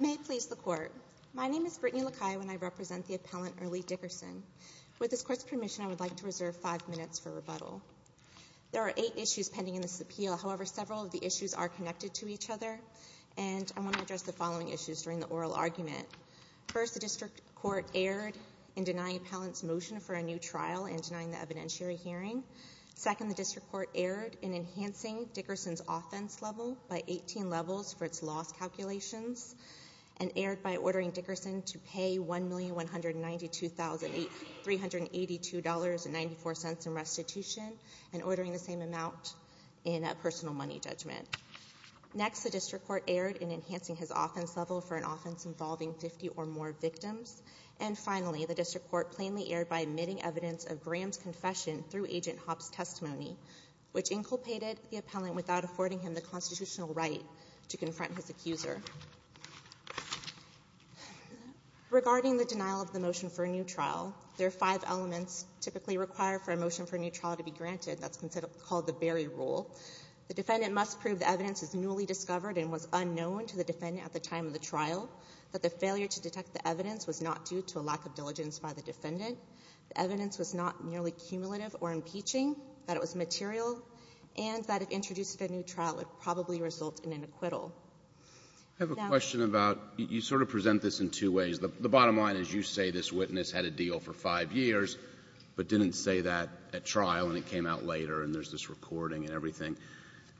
May it please the Court. My name is Brittany LaCaia and I represent the appellant Earlie Dickerson. With this Court's permission, I would like to reserve five minutes for rebuttal. There are eight issues pending in this appeal, however, several of the issues are connected to each other and I want to address the following issues during the oral argument. First, the District Court erred in denying the appellant's motion for a new trial and denying the evidentiary hearing. Second, the District Court erred in enhancing Dickerson's offense level by 18 levels for its loss calculations and erred by ordering Dickerson to pay $1,192,382.94 in restitution and ordering the same amount in a personal money judgment. Next, the District Court erred in enhancing his offense level for an offense involving 50 or more victims. And finally, the District Court plainly erred by omitting evidence of Graham's confession through Agent Hopp's testimony, which inculpated the appellant without affording him the constitutional right to confront his accuser. Regarding the denial of the motion for a new trial, there are five elements typically required for a motion for a new trial to be granted. That's called the Berry Rule. The defendant must prove the evidence is newly discovered and was unknown to the defendant at the time of the trial, that the failure to detect the evidence was not due to a lack of diligence by the defendant. The evidence was not merely cumulative or impeaching, that it was material, and that if introduced at a new trial, it would probably result in an acquittal. Now the question about you sort of present this in two ways. The bottom line is you say this witness had a deal for five years, but didn't say that at trial, and it came out later, and there's this recording and everything.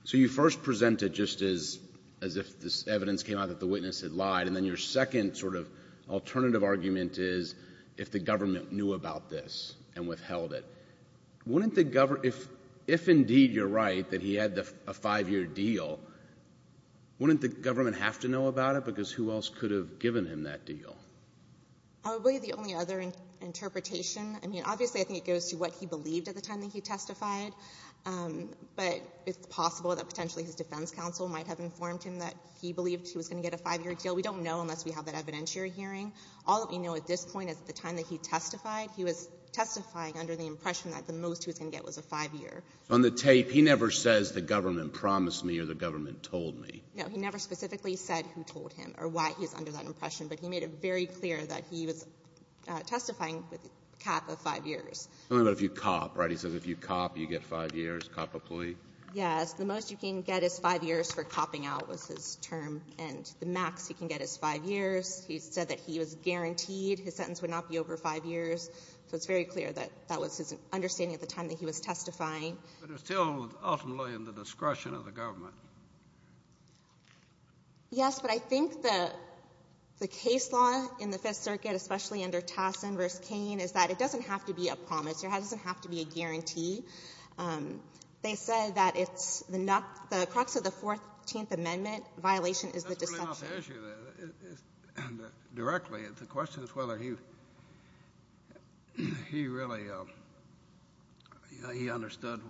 So you first present it just as if this evidence came out that the witness had lied. And then your second sort of alternative argument is if the government knew about this and withheld it. Wouldn't the government — if, indeed, you're right that he had a five-year deal, wouldn't the government have to know about it? Because who else could have given him that deal? I would believe the only other interpretation — I mean, obviously, I think it goes to what he believed at the time that he testified, but it's possible that potentially his defense counsel might have informed him that he believed he was going to get a five-year deal. We don't know unless we have that evidentiary hearing. All that we know at this point is at the time that he testified, he was testifying under the impression that the most he was going to get was a five-year. On the tape, he never says the government promised me or the government told me. No. He never specifically said who told him or why he was under that impression. But he made it very clear that he was testifying with a cap of five years. Only about if you cop, right? He says if you cop, you get five years, cop employee. Yes. The most you can get is five years for copping out was his term, and the max you can get is five years. He said that he was guaranteed his sentence would not be over five years. So it's very clear that that was his understanding at the time that he was testifying. But it's still ultimately in the discretion of the government. Yes, but I think the case law in the Fifth Circuit, especially under Tassin v. Cain, is that it doesn't have to be a promise. It doesn't have to be a guarantee. They said that it's the crux of the 14th Amendment, violation is the deception. That's really not the issue, directly. The question is whether he really understood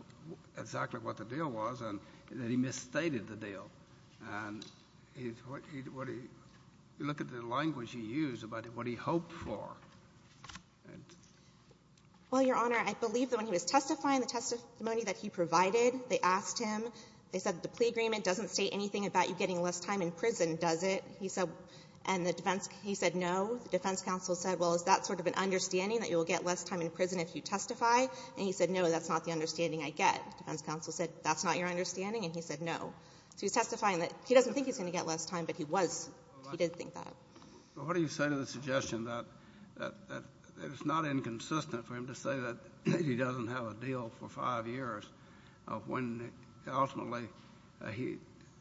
exactly what the deal was and that he misstated the deal. And you look at the language he used about what he hoped for. Well, Your Honor, I believe that when he was testifying, the testimony that he provided, they asked him, they said the plea agreement doesn't state anything about you getting less time in prison, does it? He said no. The defense counsel said, well, is that sort of an understanding that you will get less time in prison if you testify? And he said, no, that's not the understanding I get. The defense counsel said, that's not your understanding, and he said no. So he's testifying that he doesn't think he's going to get less time, but he was. He did think that. What do you say to the suggestion that it's not inconsistent for him to say that he doesn't have a deal for five years, when ultimately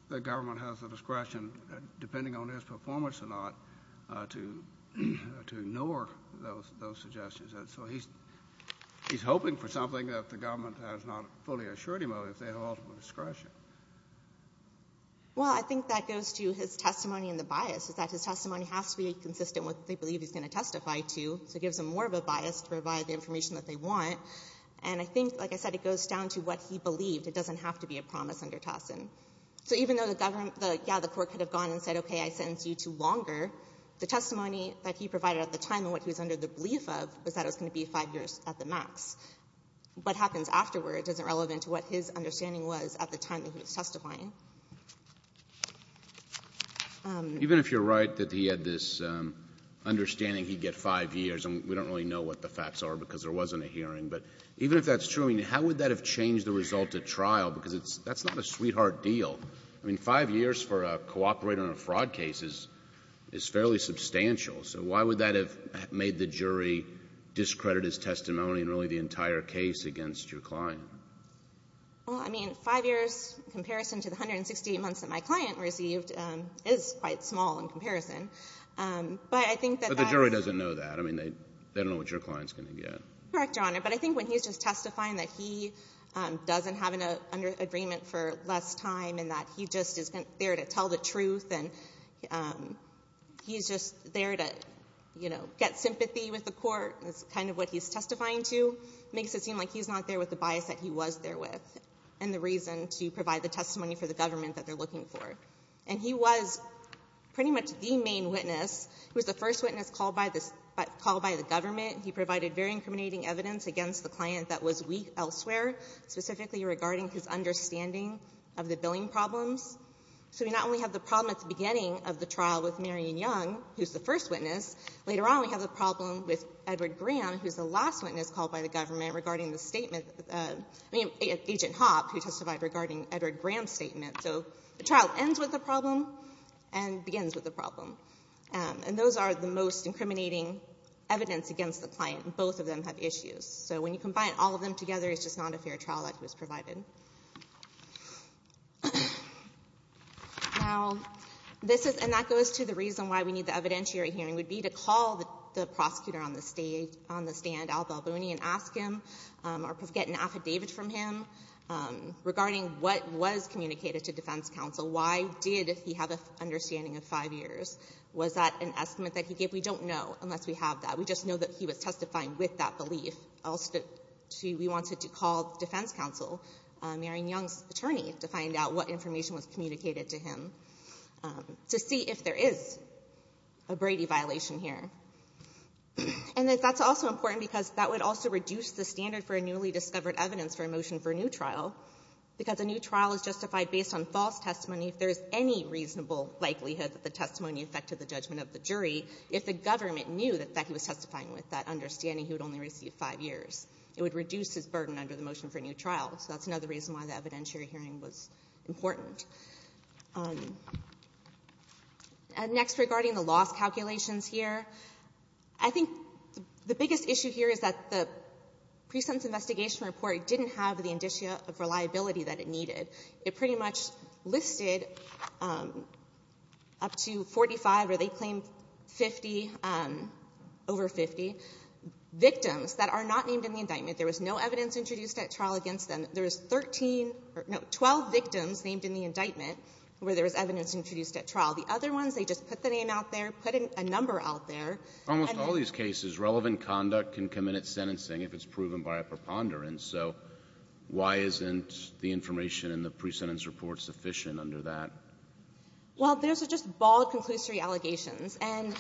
the government has the discretion, depending on his performance or not, to ignore those suggestions? So he's hoping for something that the government has not fully assured him of, if they have ultimate discretion. Well, I think that goes to his testimony and the bias, is that his testimony has to be consistent with what they believe he's going to testify to, so it gives them more of a bias to provide the information that they want. And I think, like I said, it goes down to what he believed. It doesn't have to be a promise under Tassin. So even though the government, yeah, the court could have gone and said, okay, I sentence you to longer, the testimony that he provided at the time and what he was under the belief of was that it was going to be five years at the max. What happens afterward isn't relevant to what his understanding was at the time that he was testifying. Even if you're right that he had this understanding he'd get five years, and we don't really know what the facts are because there wasn't a hearing. But even if that's true, I mean, how would that have changed the result at trial? Because that's not a sweetheart deal. I mean, five years for a cooperator in a fraud case is fairly substantial. So why would that have made the jury discredit his testimony in really the entire case against your client? Well, I mean, five years in comparison to the 168 months that my client received is quite small in comparison. But I think that that's But the jury doesn't know that. I mean, they don't know what your client's going to get. Correct, Your Honor. But I think when he's just testifying that he doesn't have an agreement for less time and that he just is there to tell the truth and he's just there to testify and get, you know, get sympathy with the court is kind of what he's testifying to, makes it seem like he's not there with the bias that he was there with and the reason to provide the testimony for the government that they're looking for. And he was pretty much the main witness. He was the first witness called by the government. He provided very incriminating evidence against the client that was weak elsewhere, specifically regarding his understanding of the billing problems. So we not only have the problem at the beginning of the trial with Marion Young, who's the first witness, later on we have the problem with Edward Graham, who's the last witness called by the government regarding the statement, I mean, Agent Hopp, who testified regarding Edward Graham's statement. So the trial ends with a problem and begins with a problem. And those are the most incriminating evidence against the client, and both of them have issues. So when you combine all of them together, it's just not a fair trial that was provided. Now, this is — and that goes to the reason why we need the evidentiary hearing, would be to call the prosecutor on the stand, Al Balboni, and ask him or get an affidavit from him regarding what was communicated to defense counsel. Why did he have an understanding of five years? Was that an estimate that he gave? We don't know unless we have that. We just know that he was testifying with that belief. Also, we wanted to call defense counsel, Marion Young's attorney, to find out what information was communicated to him, to see if there is a Brady violation here. And that's also important because that would also reduce the standard for a newly discovered evidence for a motion for a new trial, because a new trial is justified based on false testimony. If there is any reasonable likelihood that the testimony affected the judgment of the jury, if the government knew that he was testifying with that understanding, he would only receive five years. It would reduce his burden under the motion for a new trial. So that's another reason why the evidentiary hearing was important. Next, regarding the loss calculations here, I think the biggest issue here is that the presentence investigation report didn't have the indicia of reliability that it needed. It pretty much listed up to 45, or they claimed 50, over 50. Victims that are not named in the indictment, there was no evidence introduced at trial against them. There is 13 or no, 12 victims named in the indictment where there was evidence introduced at trial. The other ones, they just put the name out there, put a number out there. Almost all of these cases, relevant conduct can come in at sentencing if it's proven by a preponderance. So why isn't the information in the presentence report sufficient under that? Well, those are just bald conclusory allegations. And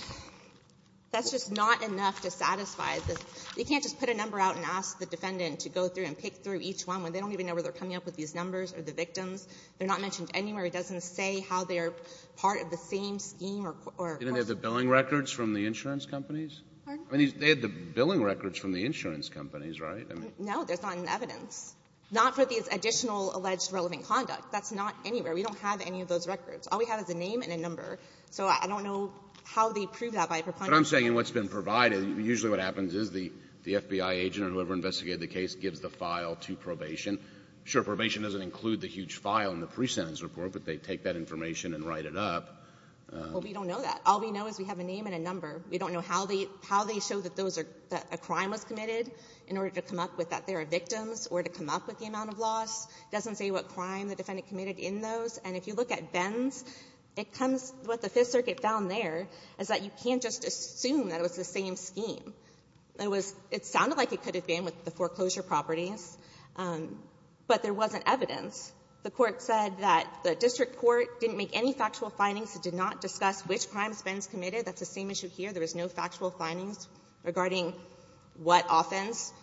that's just not enough to satisfy the — you can't just put a number out and ask the defendant to go through and pick through each one when they don't even know where they're coming up with these numbers or the victims. They're not mentioned anywhere. It doesn't say how they are part of the same scheme or course of — Kennedy. Didn't they have the billing records from the insurance companies? I mean, they had the billing records from the insurance companies, right? No, there's not in the evidence, not for these additional alleged relevant conduct. That's not anywhere. We don't have any of those records. All we have is a name and a number. So I don't know how they prove that by a preponderance. But I'm saying in what's been provided, usually what happens is the FBI agent or whoever investigated the case gives the file to probation. Sure, probation doesn't include the huge file in the presentence report, but they take that information and write it up. Well, we don't know that. All we know is we have a name and a number. We don't know how they show that those are — that a crime was committed in order to come up with that there are victims or to come up with the amount of loss. It doesn't say what crime the defendant committed in those. And if you look at Venn's, it comes — what the Fifth Circuit found there is that you can't just assume that it was the same scheme. It was — it sounded like it could have been with the foreclosure properties, but there wasn't evidence. The Court said that the district court didn't make any factual findings. It did not discuss which crimes Venn's committed. That's the same issue here. There was no factual findings regarding what offense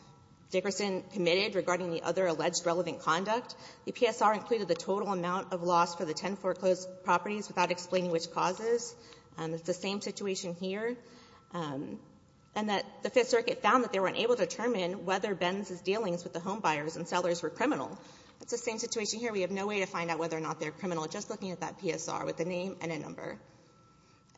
Dickerson committed regarding the other alleged relevant conduct. The PSR included the total amount of loss for the ten foreclosed properties without explaining which causes. It's the same situation here. And that the Fifth Circuit found that they weren't able to determine whether Venn's dealings with the homebuyers and sellers were criminal. It's the same situation here. We have no way to find out whether or not they're criminal, just looking at that PSR with a name and a number.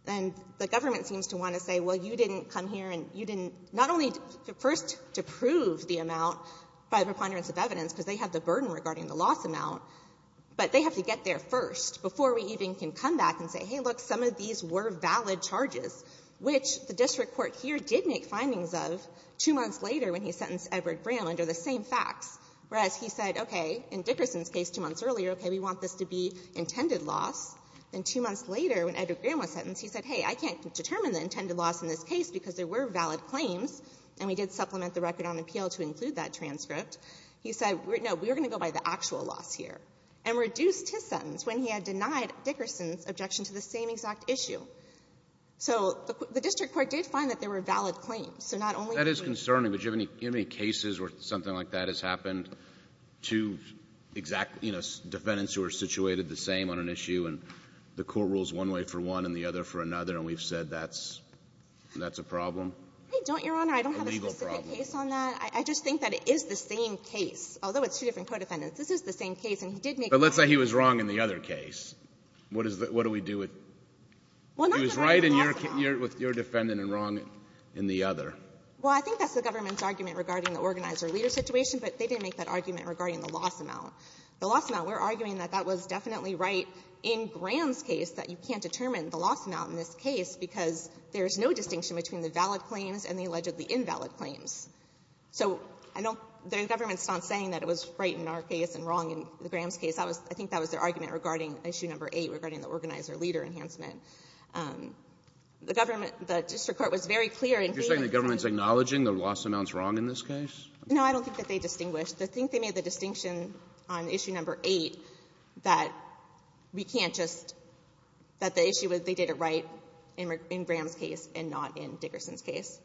And the government seems to want to say, well, you didn't come here and you didn't — not only first to prove the amount by the preponderance of evidence, because they have the burden regarding the loss amount, but they have to get there first before we even can come back and say, hey, look, some of these were valid charges, which the district court here did make findings of two months later when he sentenced Edward Graham under the same facts, whereas he said, okay, in Dickerson's case two months earlier, okay, we want this to be intended loss. Then two months later, when Edward Graham was sentenced, he said, hey, I can't determine the intended loss in this case because there were valid claims, and we did supplement the record on appeal to include that transcript. He said, no, we're going to go by the actual loss here, and reduced his sentence when he had denied Dickerson's objection to the same exact issue. So the district court did find that there were valid claims, so not only — Alito. That is concerning, but do you have any cases where something like that has happened, two exact, you know, defendants who are situated the same on an issue, and the court rules one way for one and the other for another, and we've said that's — that's a problem? I don't, Your Honor. I don't have a specific case on that. A legal problem. I just think that it is the same case, although it's two different co-defendants. This is the same case, and he did make — But let's say he was wrong in the other case. What is the — what do we do with — Well, not that I have a loss amount. He was right in your — with your defendant and wrong in the other. Well, I think that's the government's argument regarding the organizer-leader situation, but they didn't make that argument regarding the loss amount. The loss amount, we're arguing that that was definitely right in Graham's case, that you can't determine the loss amount in this case because there's no distinction between the valid claims and the allegedly invalid claims. So I don't — the government's not saying that it was right in our case and wrong in Graham's case. I was — I think that was their argument regarding issue number 8, regarding the organizer-leader enhancement. The government — the district court was very clear in — You're saying the government's acknowledging the loss amount's wrong in this case? No, I don't think that they distinguished. I think they made the distinction on issue number 8 that we can't just — that the issue was they did it right in Graham's case and not in Dickerson's case.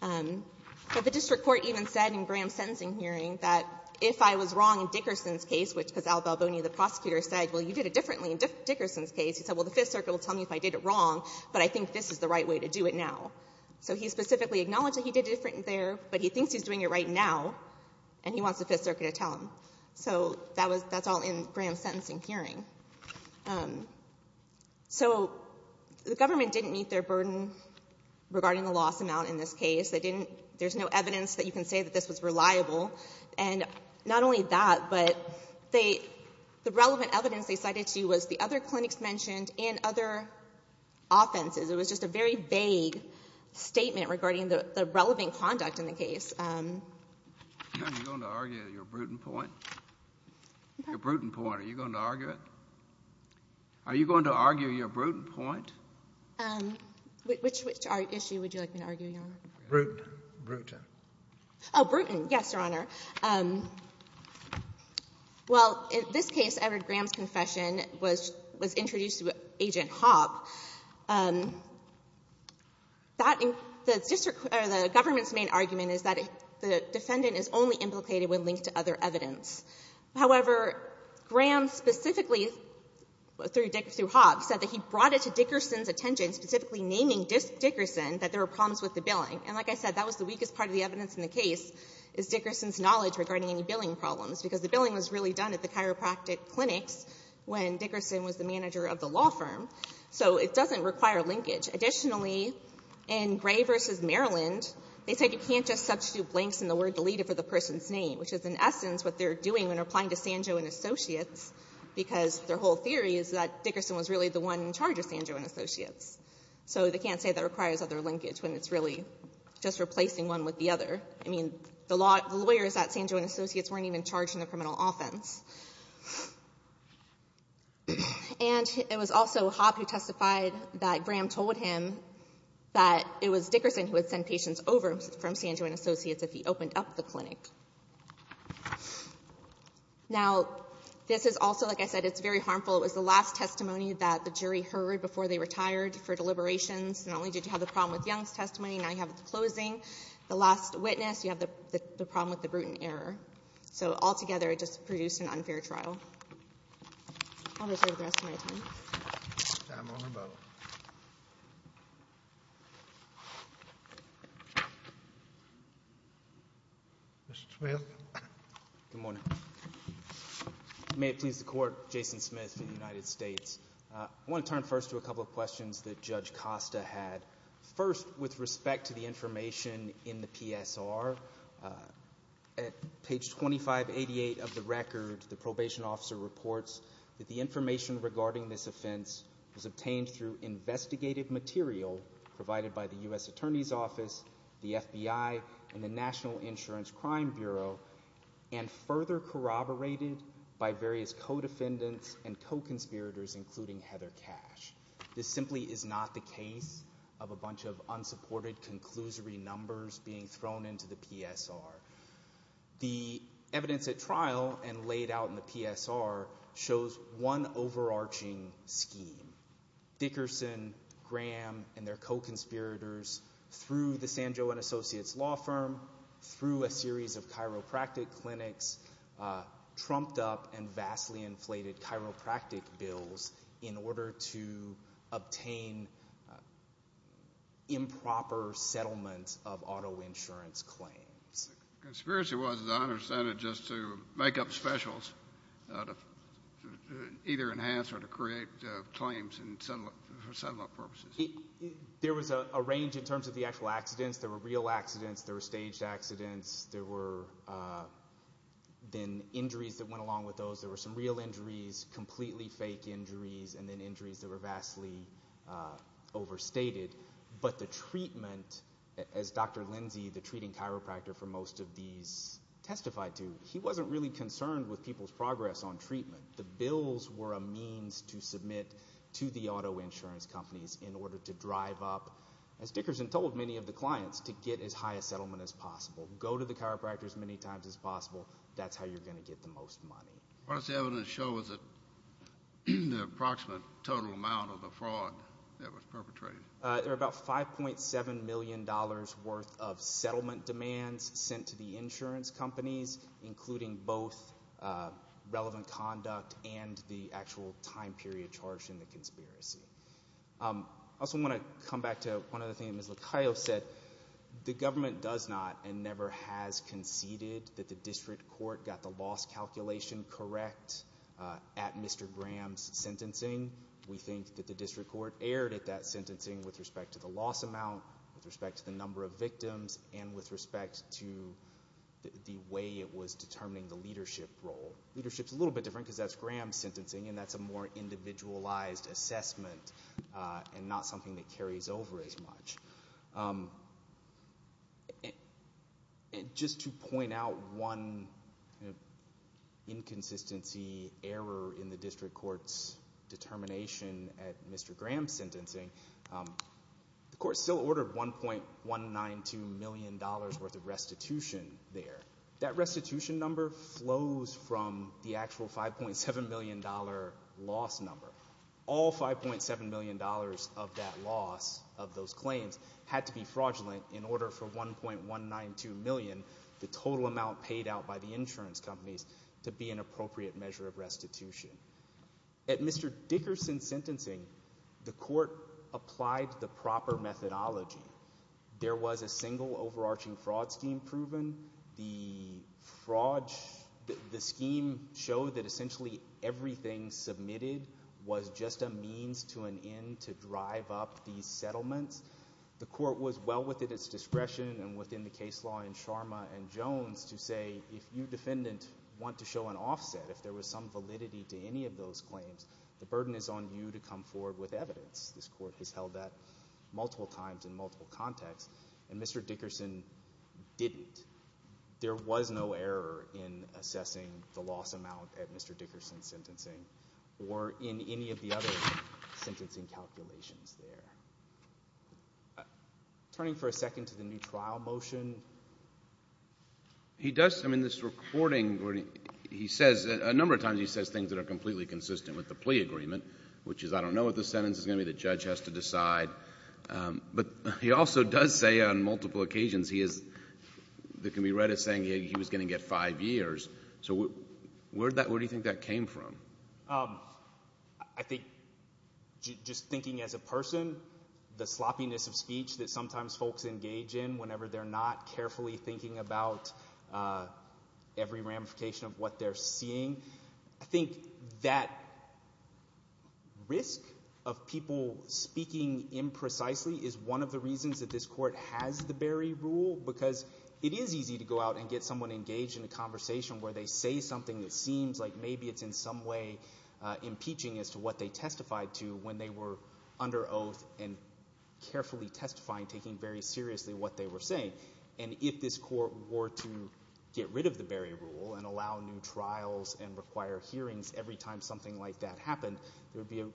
But the district court even said in Graham's sentencing hearing that if I was wrong in Dickerson's case, which — because Al Balboni, the prosecutor, said, well, you did it differently in Dickerson's case. He said, well, the Fifth Circuit will tell me if I did it wrong, but I think this is the right way to do it now. So he specifically acknowledged that he did it different there, but he thinks he's doing it right now, and he wants the Fifth Circuit to tell him. So that was — that's all in Graham's sentencing hearing. So, the government didn't meet their burden regarding the loss amount in this case. They didn't — there's no evidence that you can say that this was reliable. And not only that, but they — the relevant evidence they cited to you was the other clinics mentioned and other offenses. It was just a very vague statement regarding the relevant conduct in the case. Are you going to argue your prudent point? Your prudent point, are you going to argue it? Are you going to argue your prudent point? Which issue would you like me to argue, Your Honor? Prudent. Prudent. Oh, prudent. Yes, Your Honor. Well, in this case, Edward Graham's confession was introduced through Agent Hobb. That — the district — or the government's main argument is that the defendant is only implicated when linked to other evidence. However, Graham specifically, through Dick — through Hobb, said that he brought it to Dickerson's attention, specifically naming Dickerson, that there were problems with the billing. And like I said, that was the weakest part of the evidence in the case, is Dickerson's knowledge regarding any billing problems, because the billing was really done at the chiropractic clinics when Dickerson was the manager of the law firm. So it doesn't require linkage. Additionally, in Gray v. Maryland, they said you can't just substitute blanks in the word deleted for the person's name, which is, in essence, what they're doing when replying to Sanjo and Associates, because their whole theory is that Dickerson was really the one in charge of Sanjo and Associates. So they can't say that requires other linkage when it's really just replacing one with the other. I mean, the lawyers at Sanjo and Associates weren't even charged in the criminal offense. And it was also Hobb who testified that Graham told him that it was Dickerson who would send patients over from Sanjo and Associates if he opened up the clinic. Now this is also, like I said, it's very harmful. It was the last testimony that the jury heard before they retired for deliberations. Not only did you have the problem with Young's testimony, now you have it at the closing. The last witness, you have the problem with the Bruton error. So altogether, it just produced an unfair trial. I'm going to serve the rest of my time. I'm on a vote. Mr. Smith. Good morning. May it please the Court, Jason Smith of the United States. I want to turn first to a couple of questions that Judge Costa had. First, with respect to the information in the PSR, at page 2588 of the record, the probation officer reports that the information regarding this offense was obtained through investigated material provided by the U.S. Attorney's Office, the FBI, and the National Insurance Crime Bureau, and further corroborated by various co-defendants and co-conspirators, including Heather Cash. This simply is not the case of a bunch of unsupported conclusory numbers being thrown into the PSR. The evidence at trial and laid out in the PSR shows one overarching scheme. Dickerson, Graham, and their co-conspirators, through the San Joaquin Associates law firm, through a series of chiropractic clinics, trumped up and vastly inflated chiropractic bills in order to obtain improper settlements of auto insurance claims. The conspiracy was, as I understand it, just to make up specials to either enhance or to create claims for settlement purposes. There was a range in terms of the actual accidents. There were real accidents. There were staged accidents. There were then injuries that went along with those. There were some real injuries, completely fake injuries, and then injuries that were vastly overstated. But the treatment, as Dr. Lindsey, the treating chiropractor for most of these testified to, he wasn't really concerned with people's progress on treatment. The bills were a means to submit to the auto insurance companies in order to drive up, as Dickerson told many of the clients, to get as high a settlement as possible. Go to the chiropractor as many times as possible. That's how you're going to get the most money. What does the evidence show as the approximate total amount of the fraud that was perpetrated? There were about $5.7 million worth of settlement demands sent to the insurance companies, including both relevant conduct and the actual time period charged in the conspiracy. I also want to come back to one other thing that Ms. Lacayo said. The government does not and never has conceded that the district court got the loss calculation correct at Mr. Graham's sentencing. We think that the district court erred at that sentencing with respect to the loss amount, with respect to the number of victims, and with respect to the way it was determining the leadership role. Leadership's a little bit different because that's Graham's sentencing, and that's a more individualized assessment, and not something that carries over as much. Just to point out one inconsistency error in the district court's determination at Mr. Graham's sentencing, the court still ordered $1.192 million worth of restitution there. That restitution number flows from the actual $5.7 million loss number. All $5.7 million of that loss, of those claims, had to be fraudulent in order for $1.192 million, the total amount paid out by the insurance companies, to be an appropriate measure of restitution. At Mr. Dickerson's sentencing, the court applied the proper methodology. There was a single overarching fraud scheme proven. The scheme showed that essentially everything submitted was just a means to an end to drive up these settlements. The court was well within its discretion and within the case law in Sharma and Jones to say, if you, defendant, want to show an offset, if there was some validity to any of those claims, the burden is on you to come forward with evidence. There was no error in assessing the loss amount at Mr. Dickerson's sentencing or in any of the other sentencing calculations there. Turning for a second to the new trial motion. He does, I mean, this recording, he says, a number of times he says things that are completely consistent with the plea agreement, which is, I don't know what the sentence is going to be, the judge has to decide. But he also does say on multiple occasions that can be read as saying he was going to get five years. So where do you think that came from? I think just thinking as a person, the sloppiness of speech that sometimes folks engage in whenever they're not carefully thinking about every ramification of what they're seeing. I think that risk of people speaking imprecisely is one of the reasons that this court has the Berry Rule because it is easy to go out and get someone engaged in a conversation where they say something that seems like maybe it's in some way impeaching as to what they testified to when they were under oath and carefully testifying, taking very seriously what they were saying. And if this court were to get rid of the Berry Rule and allow new trials and require hearings every time something like that happened, there would be a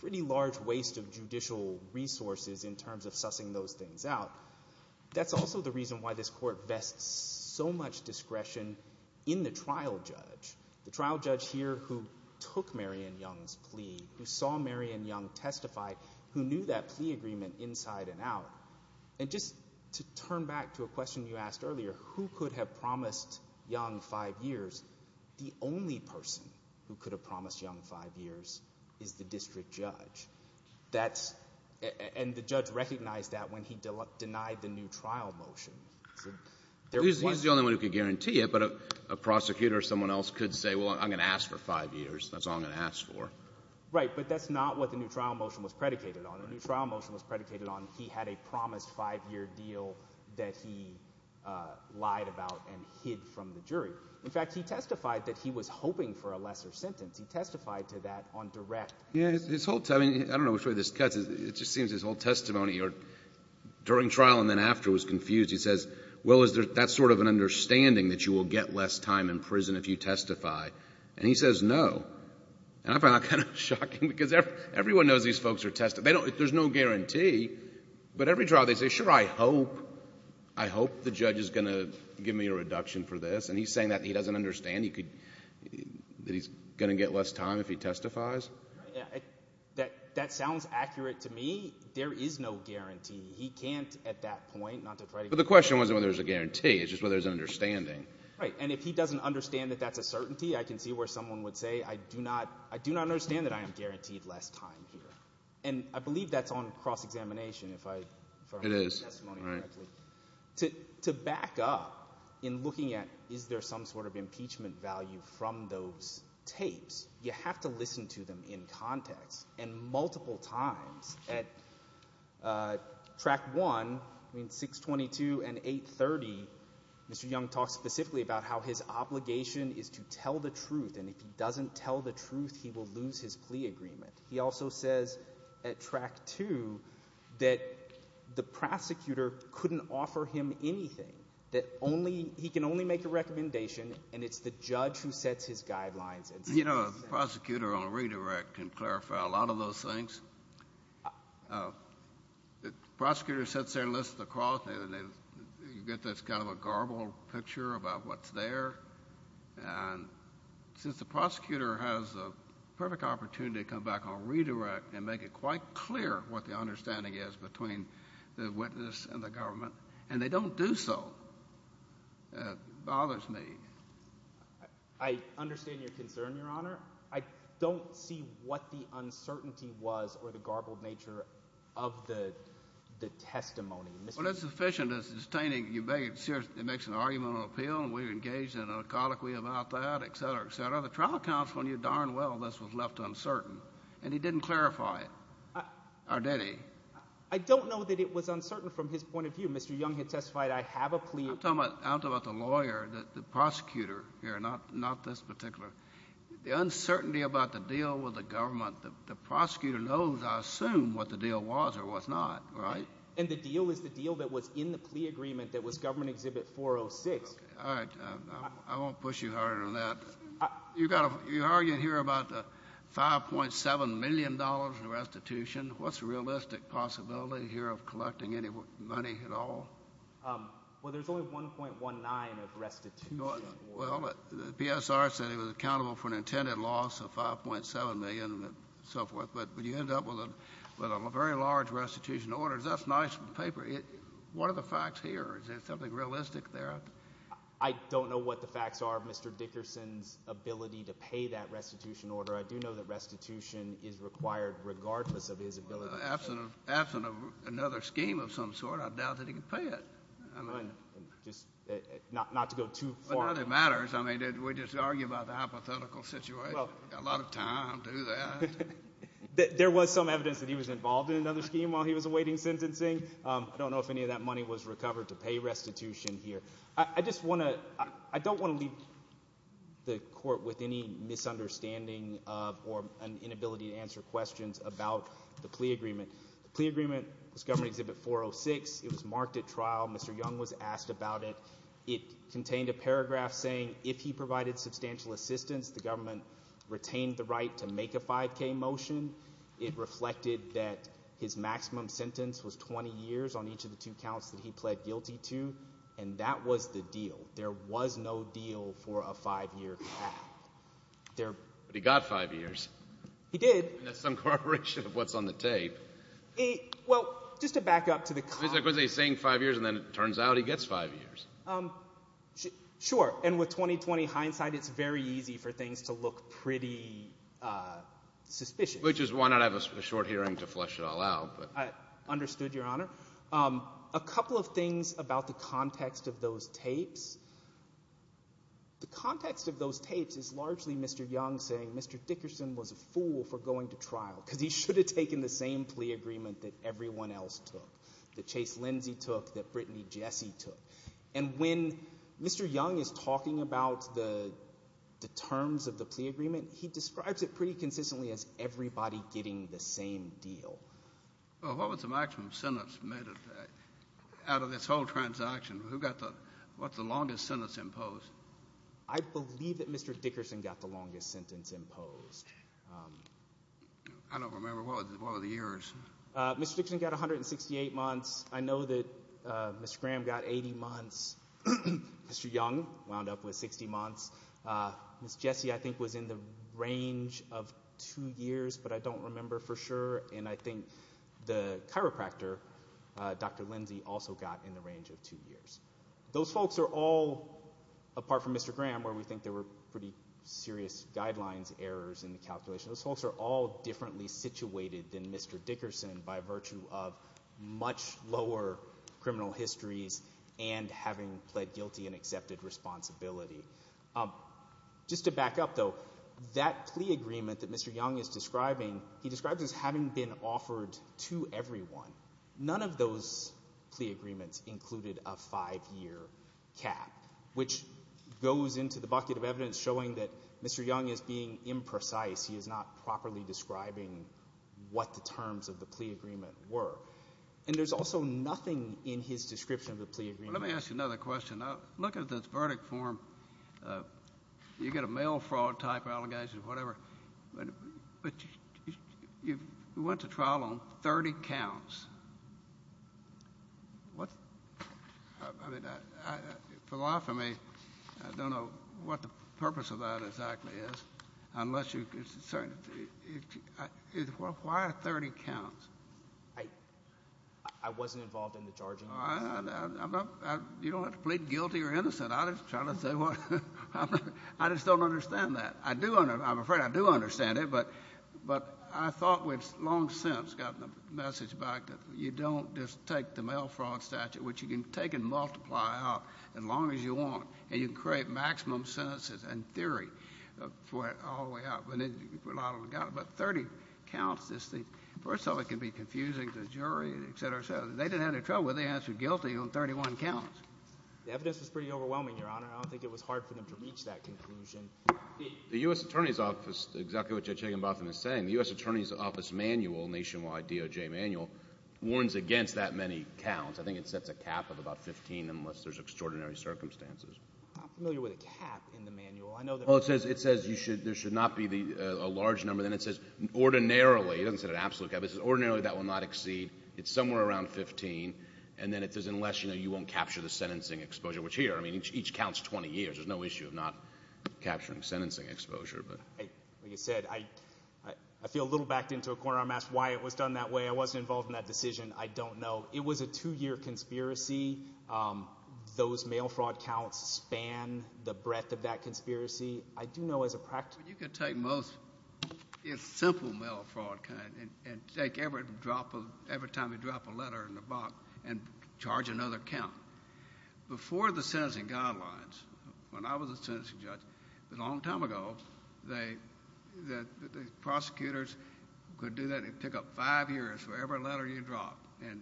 pretty large waste of judicial resources in terms of sussing those things out. That's also the reason why this court vests so much discretion in the trial judge, the trial judge here who took Marion Young's plea, who saw Marion Young testify, who knew that plea agreement inside and out. And just to turn back to a question you asked earlier, who could have promised Young five years? The only person who could have promised Young five years is the district judge. And the judge recognized that when he denied the new trial motion. He's the only one who could guarantee it, but a prosecutor or someone else could say, well, I'm going to ask for five years. That's all I'm going to ask for. Right, but that's not what the new trial motion was predicated on. The new trial motion was predicated on he had a promised five-year deal that he lied about and hid from the jury. In fact, he testified that he was hoping for a lesser sentence. He testified to that on direct. Yeah, his whole time, I don't know which way this cuts, it just seems his whole testimony during trial and then after was confused. He says, well, is that sort of an understanding that you will get less time in prison if you testify? And he says no. And I found that kind of shocking because everyone knows these folks are testifying. There's no guarantee. But every trial they say, sure, I hope, I hope the judge is going to give me a reduction for this. And he's saying that he doesn't understand that he's going to get less time if he testifies? That sounds accurate to me. There is no guarantee. He can't at that point not to try to get less time. But the question wasn't whether there's a guarantee. It's just whether there's an understanding. Right, and if he doesn't understand that that's a certainty, I can see where someone would say, I do not understand that I am guaranteed less time here. And I believe that's on cross-examination, if I heard the testimony correctly. It is, right. To back up in looking at is there some sort of impeachment value from those tapes, you have to listen to them in context. And multiple times at Track 1, I mean 622 and 830, Mr. Young talks specifically about how his obligation is to tell the truth. And if he doesn't tell the truth, he will lose his plea agreement. He also says at Track 2 that the prosecutor couldn't offer him anything, that he can only make a recommendation and it's the judge who sets his guidelines. You know, the prosecutor on a redirect can clarify a lot of those things. The prosecutor sits there and lists the cross, and you get this kind of a garbled picture about what's there. And since the prosecutor has a perfect opportunity to come back on redirect and make it quite clear what the understanding is between the witness and the government, and they don't do so. It bothers me. I understand your concern, Your Honor. I don't see what the uncertainty was or the garbled nature of the testimony. Well, that's sufficient. It's distaining. You make it serious. It makes an argument on appeal, and we're engaged in an alcoholy about that, etc., etc. Well, the trial counsel knew darn well this was left uncertain, and he didn't clarify it. Or did he? I don't know that it was uncertain from his point of view. Mr. Young had testified, I have a plea agreement. I'm talking about the lawyer, the prosecutor here, not this particular. The uncertainty about the deal with the government, the prosecutor knows, I assume, what the deal was or was not, right? And the deal is the deal that was in the plea agreement that was Government Exhibit 406. All right. I won't push you harder than that. You're arguing here about the $5.7 million in restitution. What's the realistic possibility here of collecting any money at all? Well, there's only $1.19 of restitution. Well, the PSR said it was accountable for an intended loss of $5.7 million and so forth, but you end up with a very large restitution order. That's nice paper. What are the facts here? Is there something realistic there? I don't know what the facts are of Mr. Dickerson's ability to pay that restitution order. I do know that restitution is required regardless of his ability to pay it. Absent of another scheme of some sort, I doubt that he could pay it. Just not to go too far. It matters. I mean, we just argue about the hypothetical situation. A lot of time to do that. There was some evidence that he was involved in another scheme while he was awaiting sentencing. I don't know if any of that money was recovered to pay restitution here. I don't want to leave the court with any misunderstanding or an inability to answer questions about the plea agreement. The plea agreement was Government Exhibit 406. It was marked at trial. Mr. Young was asked about it. It contained a paragraph saying if he provided substantial assistance, the government retained the right to make a 5K motion. It reflected that his maximum sentence was 20 years on each of the two counts that he pled guilty to, and that was the deal. There was no deal for a five-year cap. But he got five years. He did. That's some corroboration of what's on the tape. Well, just to back up to the comment. Because he's saying five years, and then it turns out he gets five years. Sure, and with 20-20 hindsight, it's very easy for things to look pretty suspicious. Which is why not have a short hearing to flush it all out. I understood, Your Honor. A couple of things about the context of those tapes. The context of those tapes is largely Mr. Young saying Mr. Dickerson was a fool for going to trial because he should have taken the same plea agreement that everyone else took, that Chase Lindsay took, that Brittany Jessie took. And when Mr. Young is talking about the terms of the plea agreement, he describes it pretty consistently as everybody getting the same deal. Well, what was the maximum sentence made out of this whole transaction? What's the longest sentence imposed? I believe that Mr. Dickerson got the longest sentence imposed. I don't remember. What were the years? Mr. Dickerson got 168 months. I know that Mr. Graham got 80 months. Mr. Young wound up with 60 months. Ms. Jessie, I think, was in the range of two years, but I don't remember for sure. And I think the chiropractor, Dr. Lindsay, also got in the range of two years. Those folks are all, apart from Mr. Graham, where we think there were pretty serious guidelines errors in the calculation, those folks are all differently situated than Mr. Dickerson by virtue of much lower criminal histories and having pled guilty and accepted responsibility. Just to back up, though, that plea agreement that Mr. Young is describing, he describes as having been offered to everyone. None of those plea agreements included a five-year cap, which goes into the bucket of evidence showing that Mr. Young is being imprecise. He is not properly describing what the terms of the plea agreement were. And there's also nothing in his description of the plea agreement. Let me ask you another question. Look at this verdict form. You get a mail fraud type allegation or whatever, but you went to trial on 30 counts. What? I mean, philophony, I don't know what the purpose of that exactly is unless you're concerned. Why 30 counts? I wasn't involved in the charging. You don't have to plead guilty or innocent. I just don't understand that. I'm afraid I do understand it, but I thought we've long since gotten the message back that you don't just take the mail fraud statute, which you can take and multiply out as long as you want, and you can create maximum sentences in theory for it all the way up. But then you've got about 30 counts. First of all, it can be confusing to the jury, et cetera, et cetera. They didn't have any trouble. They answered guilty on 31 counts. The evidence was pretty overwhelming, Your Honor. I don't think it was hard for them to reach that conclusion. The U.S. Attorney's Office, exactly what Judge Higginbotham is saying, the U.S. Attorney's Office manual, nationwide DOJ manual, warns against that many counts. I think it sets a cap of about 15 unless there's extraordinary circumstances. I'm not familiar with a cap in the manual. It says there should not be a large number. Then it says ordinarily. It doesn't say an absolute cap. It says ordinarily that will not exceed. It's somewhere around 15. And then it says unless you won't capture the sentencing exposure, which here, I mean, each counts 20 years. There's no issue of not capturing sentencing exposure. Like you said, I feel a little backed into a corner. I'm asked why it was done that way. I wasn't involved in that decision. I don't know. It was a two-year conspiracy. Those mail fraud counts span the breadth of that conspiracy. I do know as a practitioner. You can take most simple mail fraud and take every drop of every time you drop a letter in the box and charge another count. Before the sentencing guidelines, when I was a sentencing judge, a long time ago, the prosecutors could do that and pick up five years for every letter you dropped. And,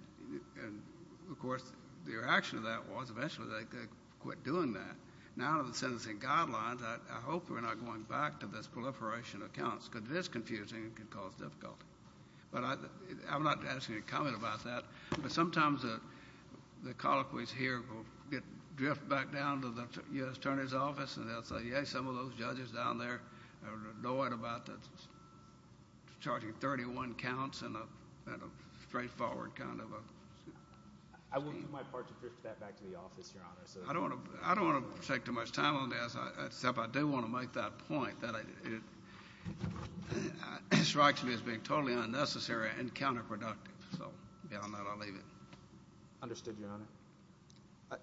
of course, the reaction to that was eventually they quit doing that. Now with the sentencing guidelines, I hope we're not going back to this proliferation of counts because it is confusing and can cause difficulty. But I'm not asking you to comment about that. But sometimes the colloquies here will drift back down to the U.S. Attorney's Office, and they'll say, yeah, some of those judges down there are annoyed about charging 31 counts in a straightforward kind of scheme. I will do my part to drift that back to the office, Your Honor. I don't want to take too much time on this, except I do want to make that point that it strikes me as being totally unnecessary and counterproductive. So beyond that, I'll leave it. Understood, Your Honor.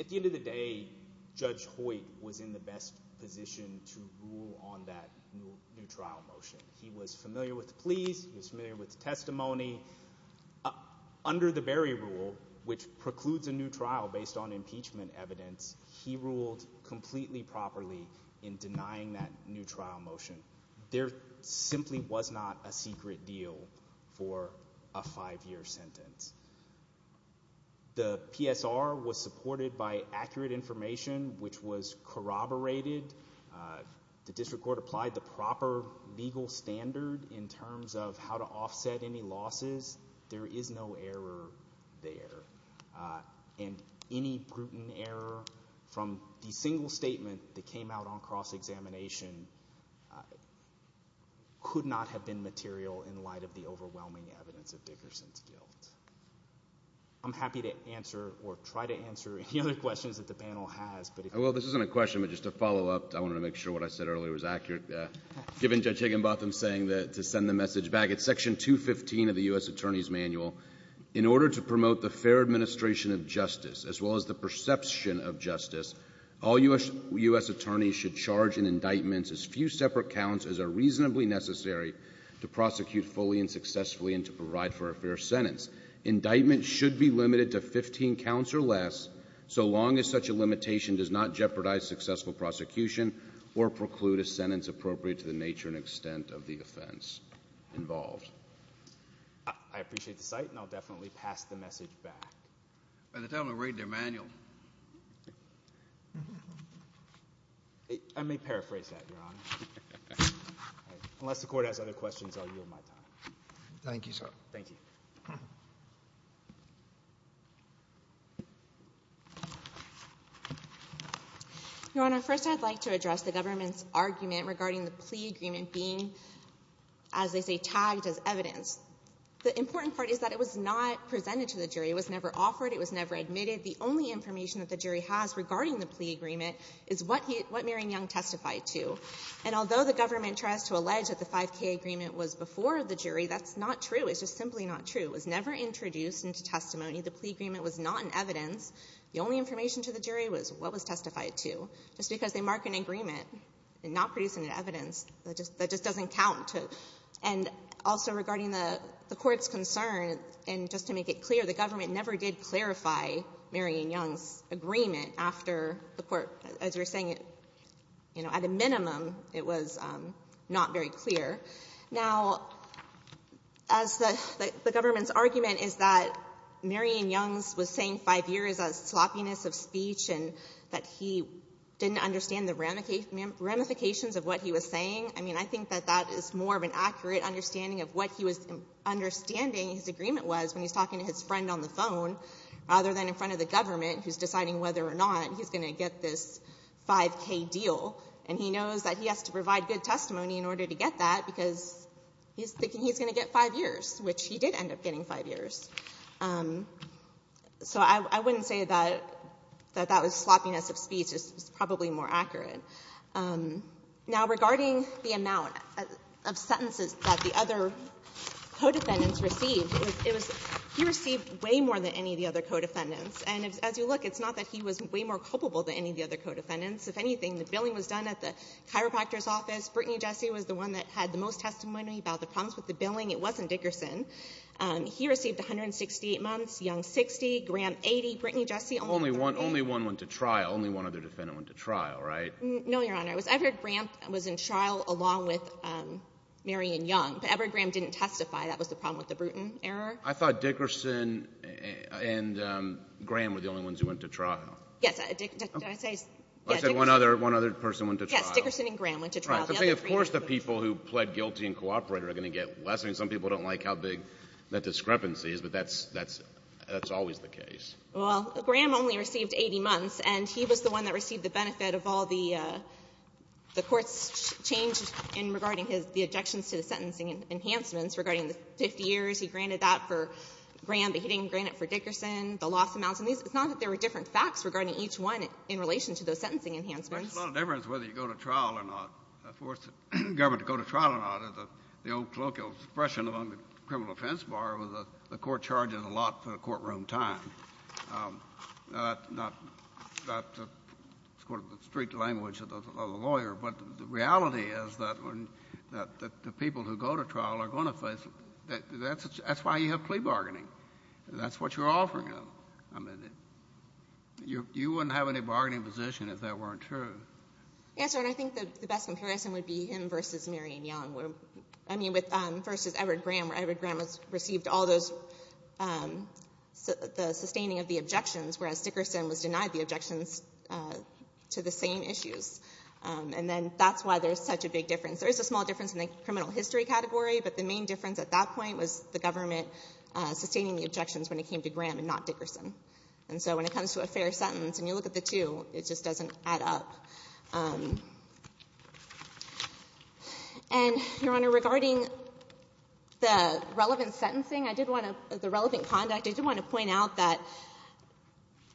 At the end of the day, Judge Hoyt was in the best position to rule on that new trial motion. He was familiar with the pleas. He was familiar with the testimony. Under the Berry rule, which precludes a new trial based on impeachment evidence, he ruled completely properly in denying that new trial motion. There simply was not a secret deal for a five-year sentence. The PSR was supported by accurate information, which was corroborated. The district court applied the proper legal standard in terms of how to offset any losses. There is no error there. And any brutal error from the single statement that came out on cross-examination could not have been material in light of the overwhelming evidence of Dickerson's guilt. I'm happy to answer or try to answer any other questions that the panel has. Well, this isn't a question, but just a follow-up. I wanted to make sure what I said earlier was accurate. Given Judge Higginbotham's saying to send the message back, it's Section 215 of the U.S. Attorney's Manual. In order to promote the fair administration of justice, as well as the perception of justice, all U.S. attorneys should charge in indictments as few separate counts as are reasonably necessary to prosecute fully and successfully and to provide for a fair sentence. Indictments should be limited to 15 counts or less so long as such a limitation does not jeopardize successful prosecution or preclude a sentence appropriate to the nature and extent of the offense involved. I appreciate the cite, and I'll definitely pass the message back. By the time I read their manual. I may paraphrase that, Your Honor. Unless the court has other questions, I'll yield my time. Thank you, sir. Thank you. Your Honor, first I'd like to address the government's argument regarding the plea agreement being, as they say, tagged as evidence. The important part is that it was not presented to the jury. It was never offered. It was never admitted. The only information that the jury has regarding the plea agreement is what he — what Marion Young testified to. And although the government tries to allege that the 5K agreement was before the jury, that's not true. It's just simply not true. It was never introduced into testimony. The plea agreement was not in evidence. The only information to the jury was what was testified to, just because they mark an agreement and not produce any evidence. That just doesn't count. And also regarding the Court's concern, and just to make it clear, the government never did clarify Marion Young's agreement after the court — as you were saying, you know, at a minimum, it was not very clear. Now, as the government's argument is that Marion Young was saying five years of sloppiness of speech and that he didn't understand the ramifications of what he was saying, I mean, I think that that is more of an accurate understanding of what he was understanding his agreement was when he's talking to his friend on the phone rather than in front of the government who's deciding whether or not he's going to get this 5K deal. And he knows that he has to provide good testimony in order to get that because he's thinking he's going to get five years, which he did end up getting five years. So I wouldn't say that that was sloppiness of speech. It's probably more accurate. Now, regarding the amount of sentences that the other co-defendants received, it was — he received way more than any of the other co-defendants. And as you look, it's not that he was way more culpable than any of the other co-defendants. If anything, the billing was done at the chiropractor's office. Brittany Jesse was the one that had the most testimony about the problems with the billing. It wasn't Dickerson. He received 168 months. Young, 60. Graham, 80. Brittany Jesse, only one. Only one went to trial. Only one other defendant went to trial, right? No, Your Honor. Edward Graham was in trial along with Marion Young. But Edward Graham didn't testify. That was the problem with the Bruton error. I thought Dickerson and Graham were the only ones who went to trial. Yes. Did I say — I said one other person went to trial. Yes. Dickerson and Graham went to trial. Right. Of course the people who pled guilty and cooperated are going to get less. I mean, some people don't like how big that discrepancy is, but that's always the case. Well, Graham only received 80 months, and he was the one that received the benefit of all the courts' changes in regarding the objections to the sentencing enhancements regarding the 50 years. He granted that for Graham, but he didn't grant it for Dickerson, the loss amounts. It's not that there were different facts regarding each one in relation to those sentencing enhancements. There's a lot of difference whether you go to trial or not. Of course, the government, to go to trial or not, is the old colloquial expression among the criminal defense bar where the court charges a lot for the courtroom time. Now, that's sort of the street language of the lawyer, but the reality is that when — that the people who go to trial are going to face — that's why you have plea bargaining. That's what you're offering them. I mean, you wouldn't have any bargaining position if that weren't true. Yes, sir, and I think the best comparison would be him versus Marion Young. I mean, versus Edward Graham, where Edward Graham received all those — the sustaining of the objections, whereas Dickerson was denied the objections to the same issues. And then that's why there's such a big difference. There is a small difference in the criminal history category, but the main difference at that point was the government sustaining the objections when it came to Graham and not Dickerson. And so when it comes to a fair sentence and you look at the two, it just doesn't add up. And, Your Honor, regarding the relevant sentencing, I did want to — the relevant conduct, I did want to point out that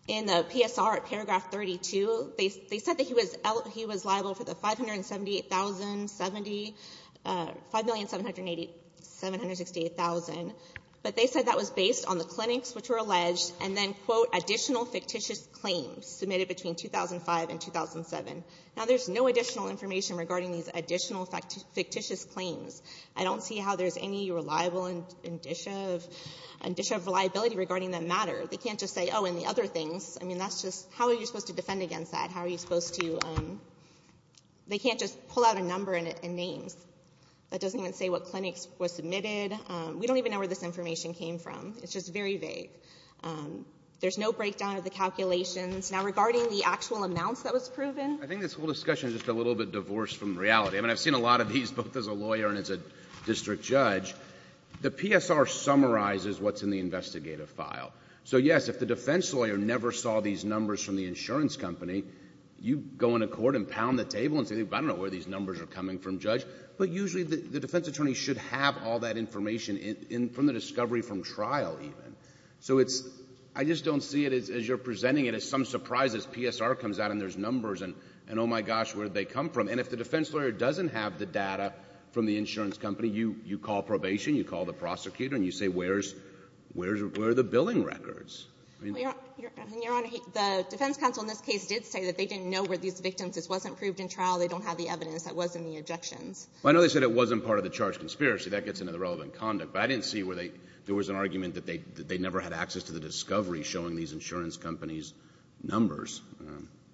in the PSR at paragraph 32, they said that he was — he was liable for the $578,070 — $5,788,768, but they said that was based on the clinics which were alleged and then, quote, additional fictitious claims submitted between 2005 and 2007. Now, there's no additional information regarding these additional fictitious claims. I don't see how there's any reliable indicia of liability regarding that matter. They can't just say, oh, and the other things. I mean, that's just — how are you supposed to defend against that? How are you supposed to — they can't just pull out a number and names. That doesn't even say what clinics were submitted. We don't even know where this information came from. It's just very vague. There's no breakdown of the calculations. Now, regarding the actual amounts that was proven — I think this whole discussion is just a little bit divorced from reality. I mean, I've seen a lot of these both as a lawyer and as a district judge. The PSR summarizes what's in the investigative file. So, yes, if the defense lawyer never saw these numbers from the insurance company, you go into court and pound the table and say, I don't know where these numbers are coming from, Judge, but usually the defense attorney should have all that information in — from the discovery from trial even. So it's — I just don't see it as you're presenting it as some surprise as PSR comes out and there's numbers, and, oh, my gosh, where did they come from? And if the defense lawyer doesn't have the data from the insurance company, you call probation, you call the prosecutor, and you say, where's — where are the billing records? I mean — Well, Your Honor, the defense counsel in this case did say that they didn't know where these victims — this wasn't proved in trial. They don't have the evidence. That wasn't the objections. Well, I know they said it wasn't part of the charge conspiracy. That gets into the relevant conduct. But I didn't see where they — there was an argument that they never had access to the discovery showing these insurance companies' numbers.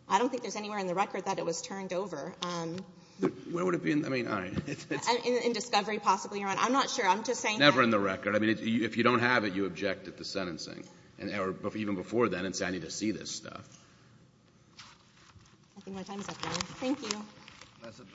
I don't think there's anywhere in the record that it was turned over. Where would it be in — I mean, all right. In discovery, possibly, Your Honor. I'm not sure. I'm just saying — Never in the record. I mean, if you don't have it, you object at the sentencing, or even before then, and say, I need to see this stuff. I think my time is up, Your Honor. Thank you. That's it. Thank you.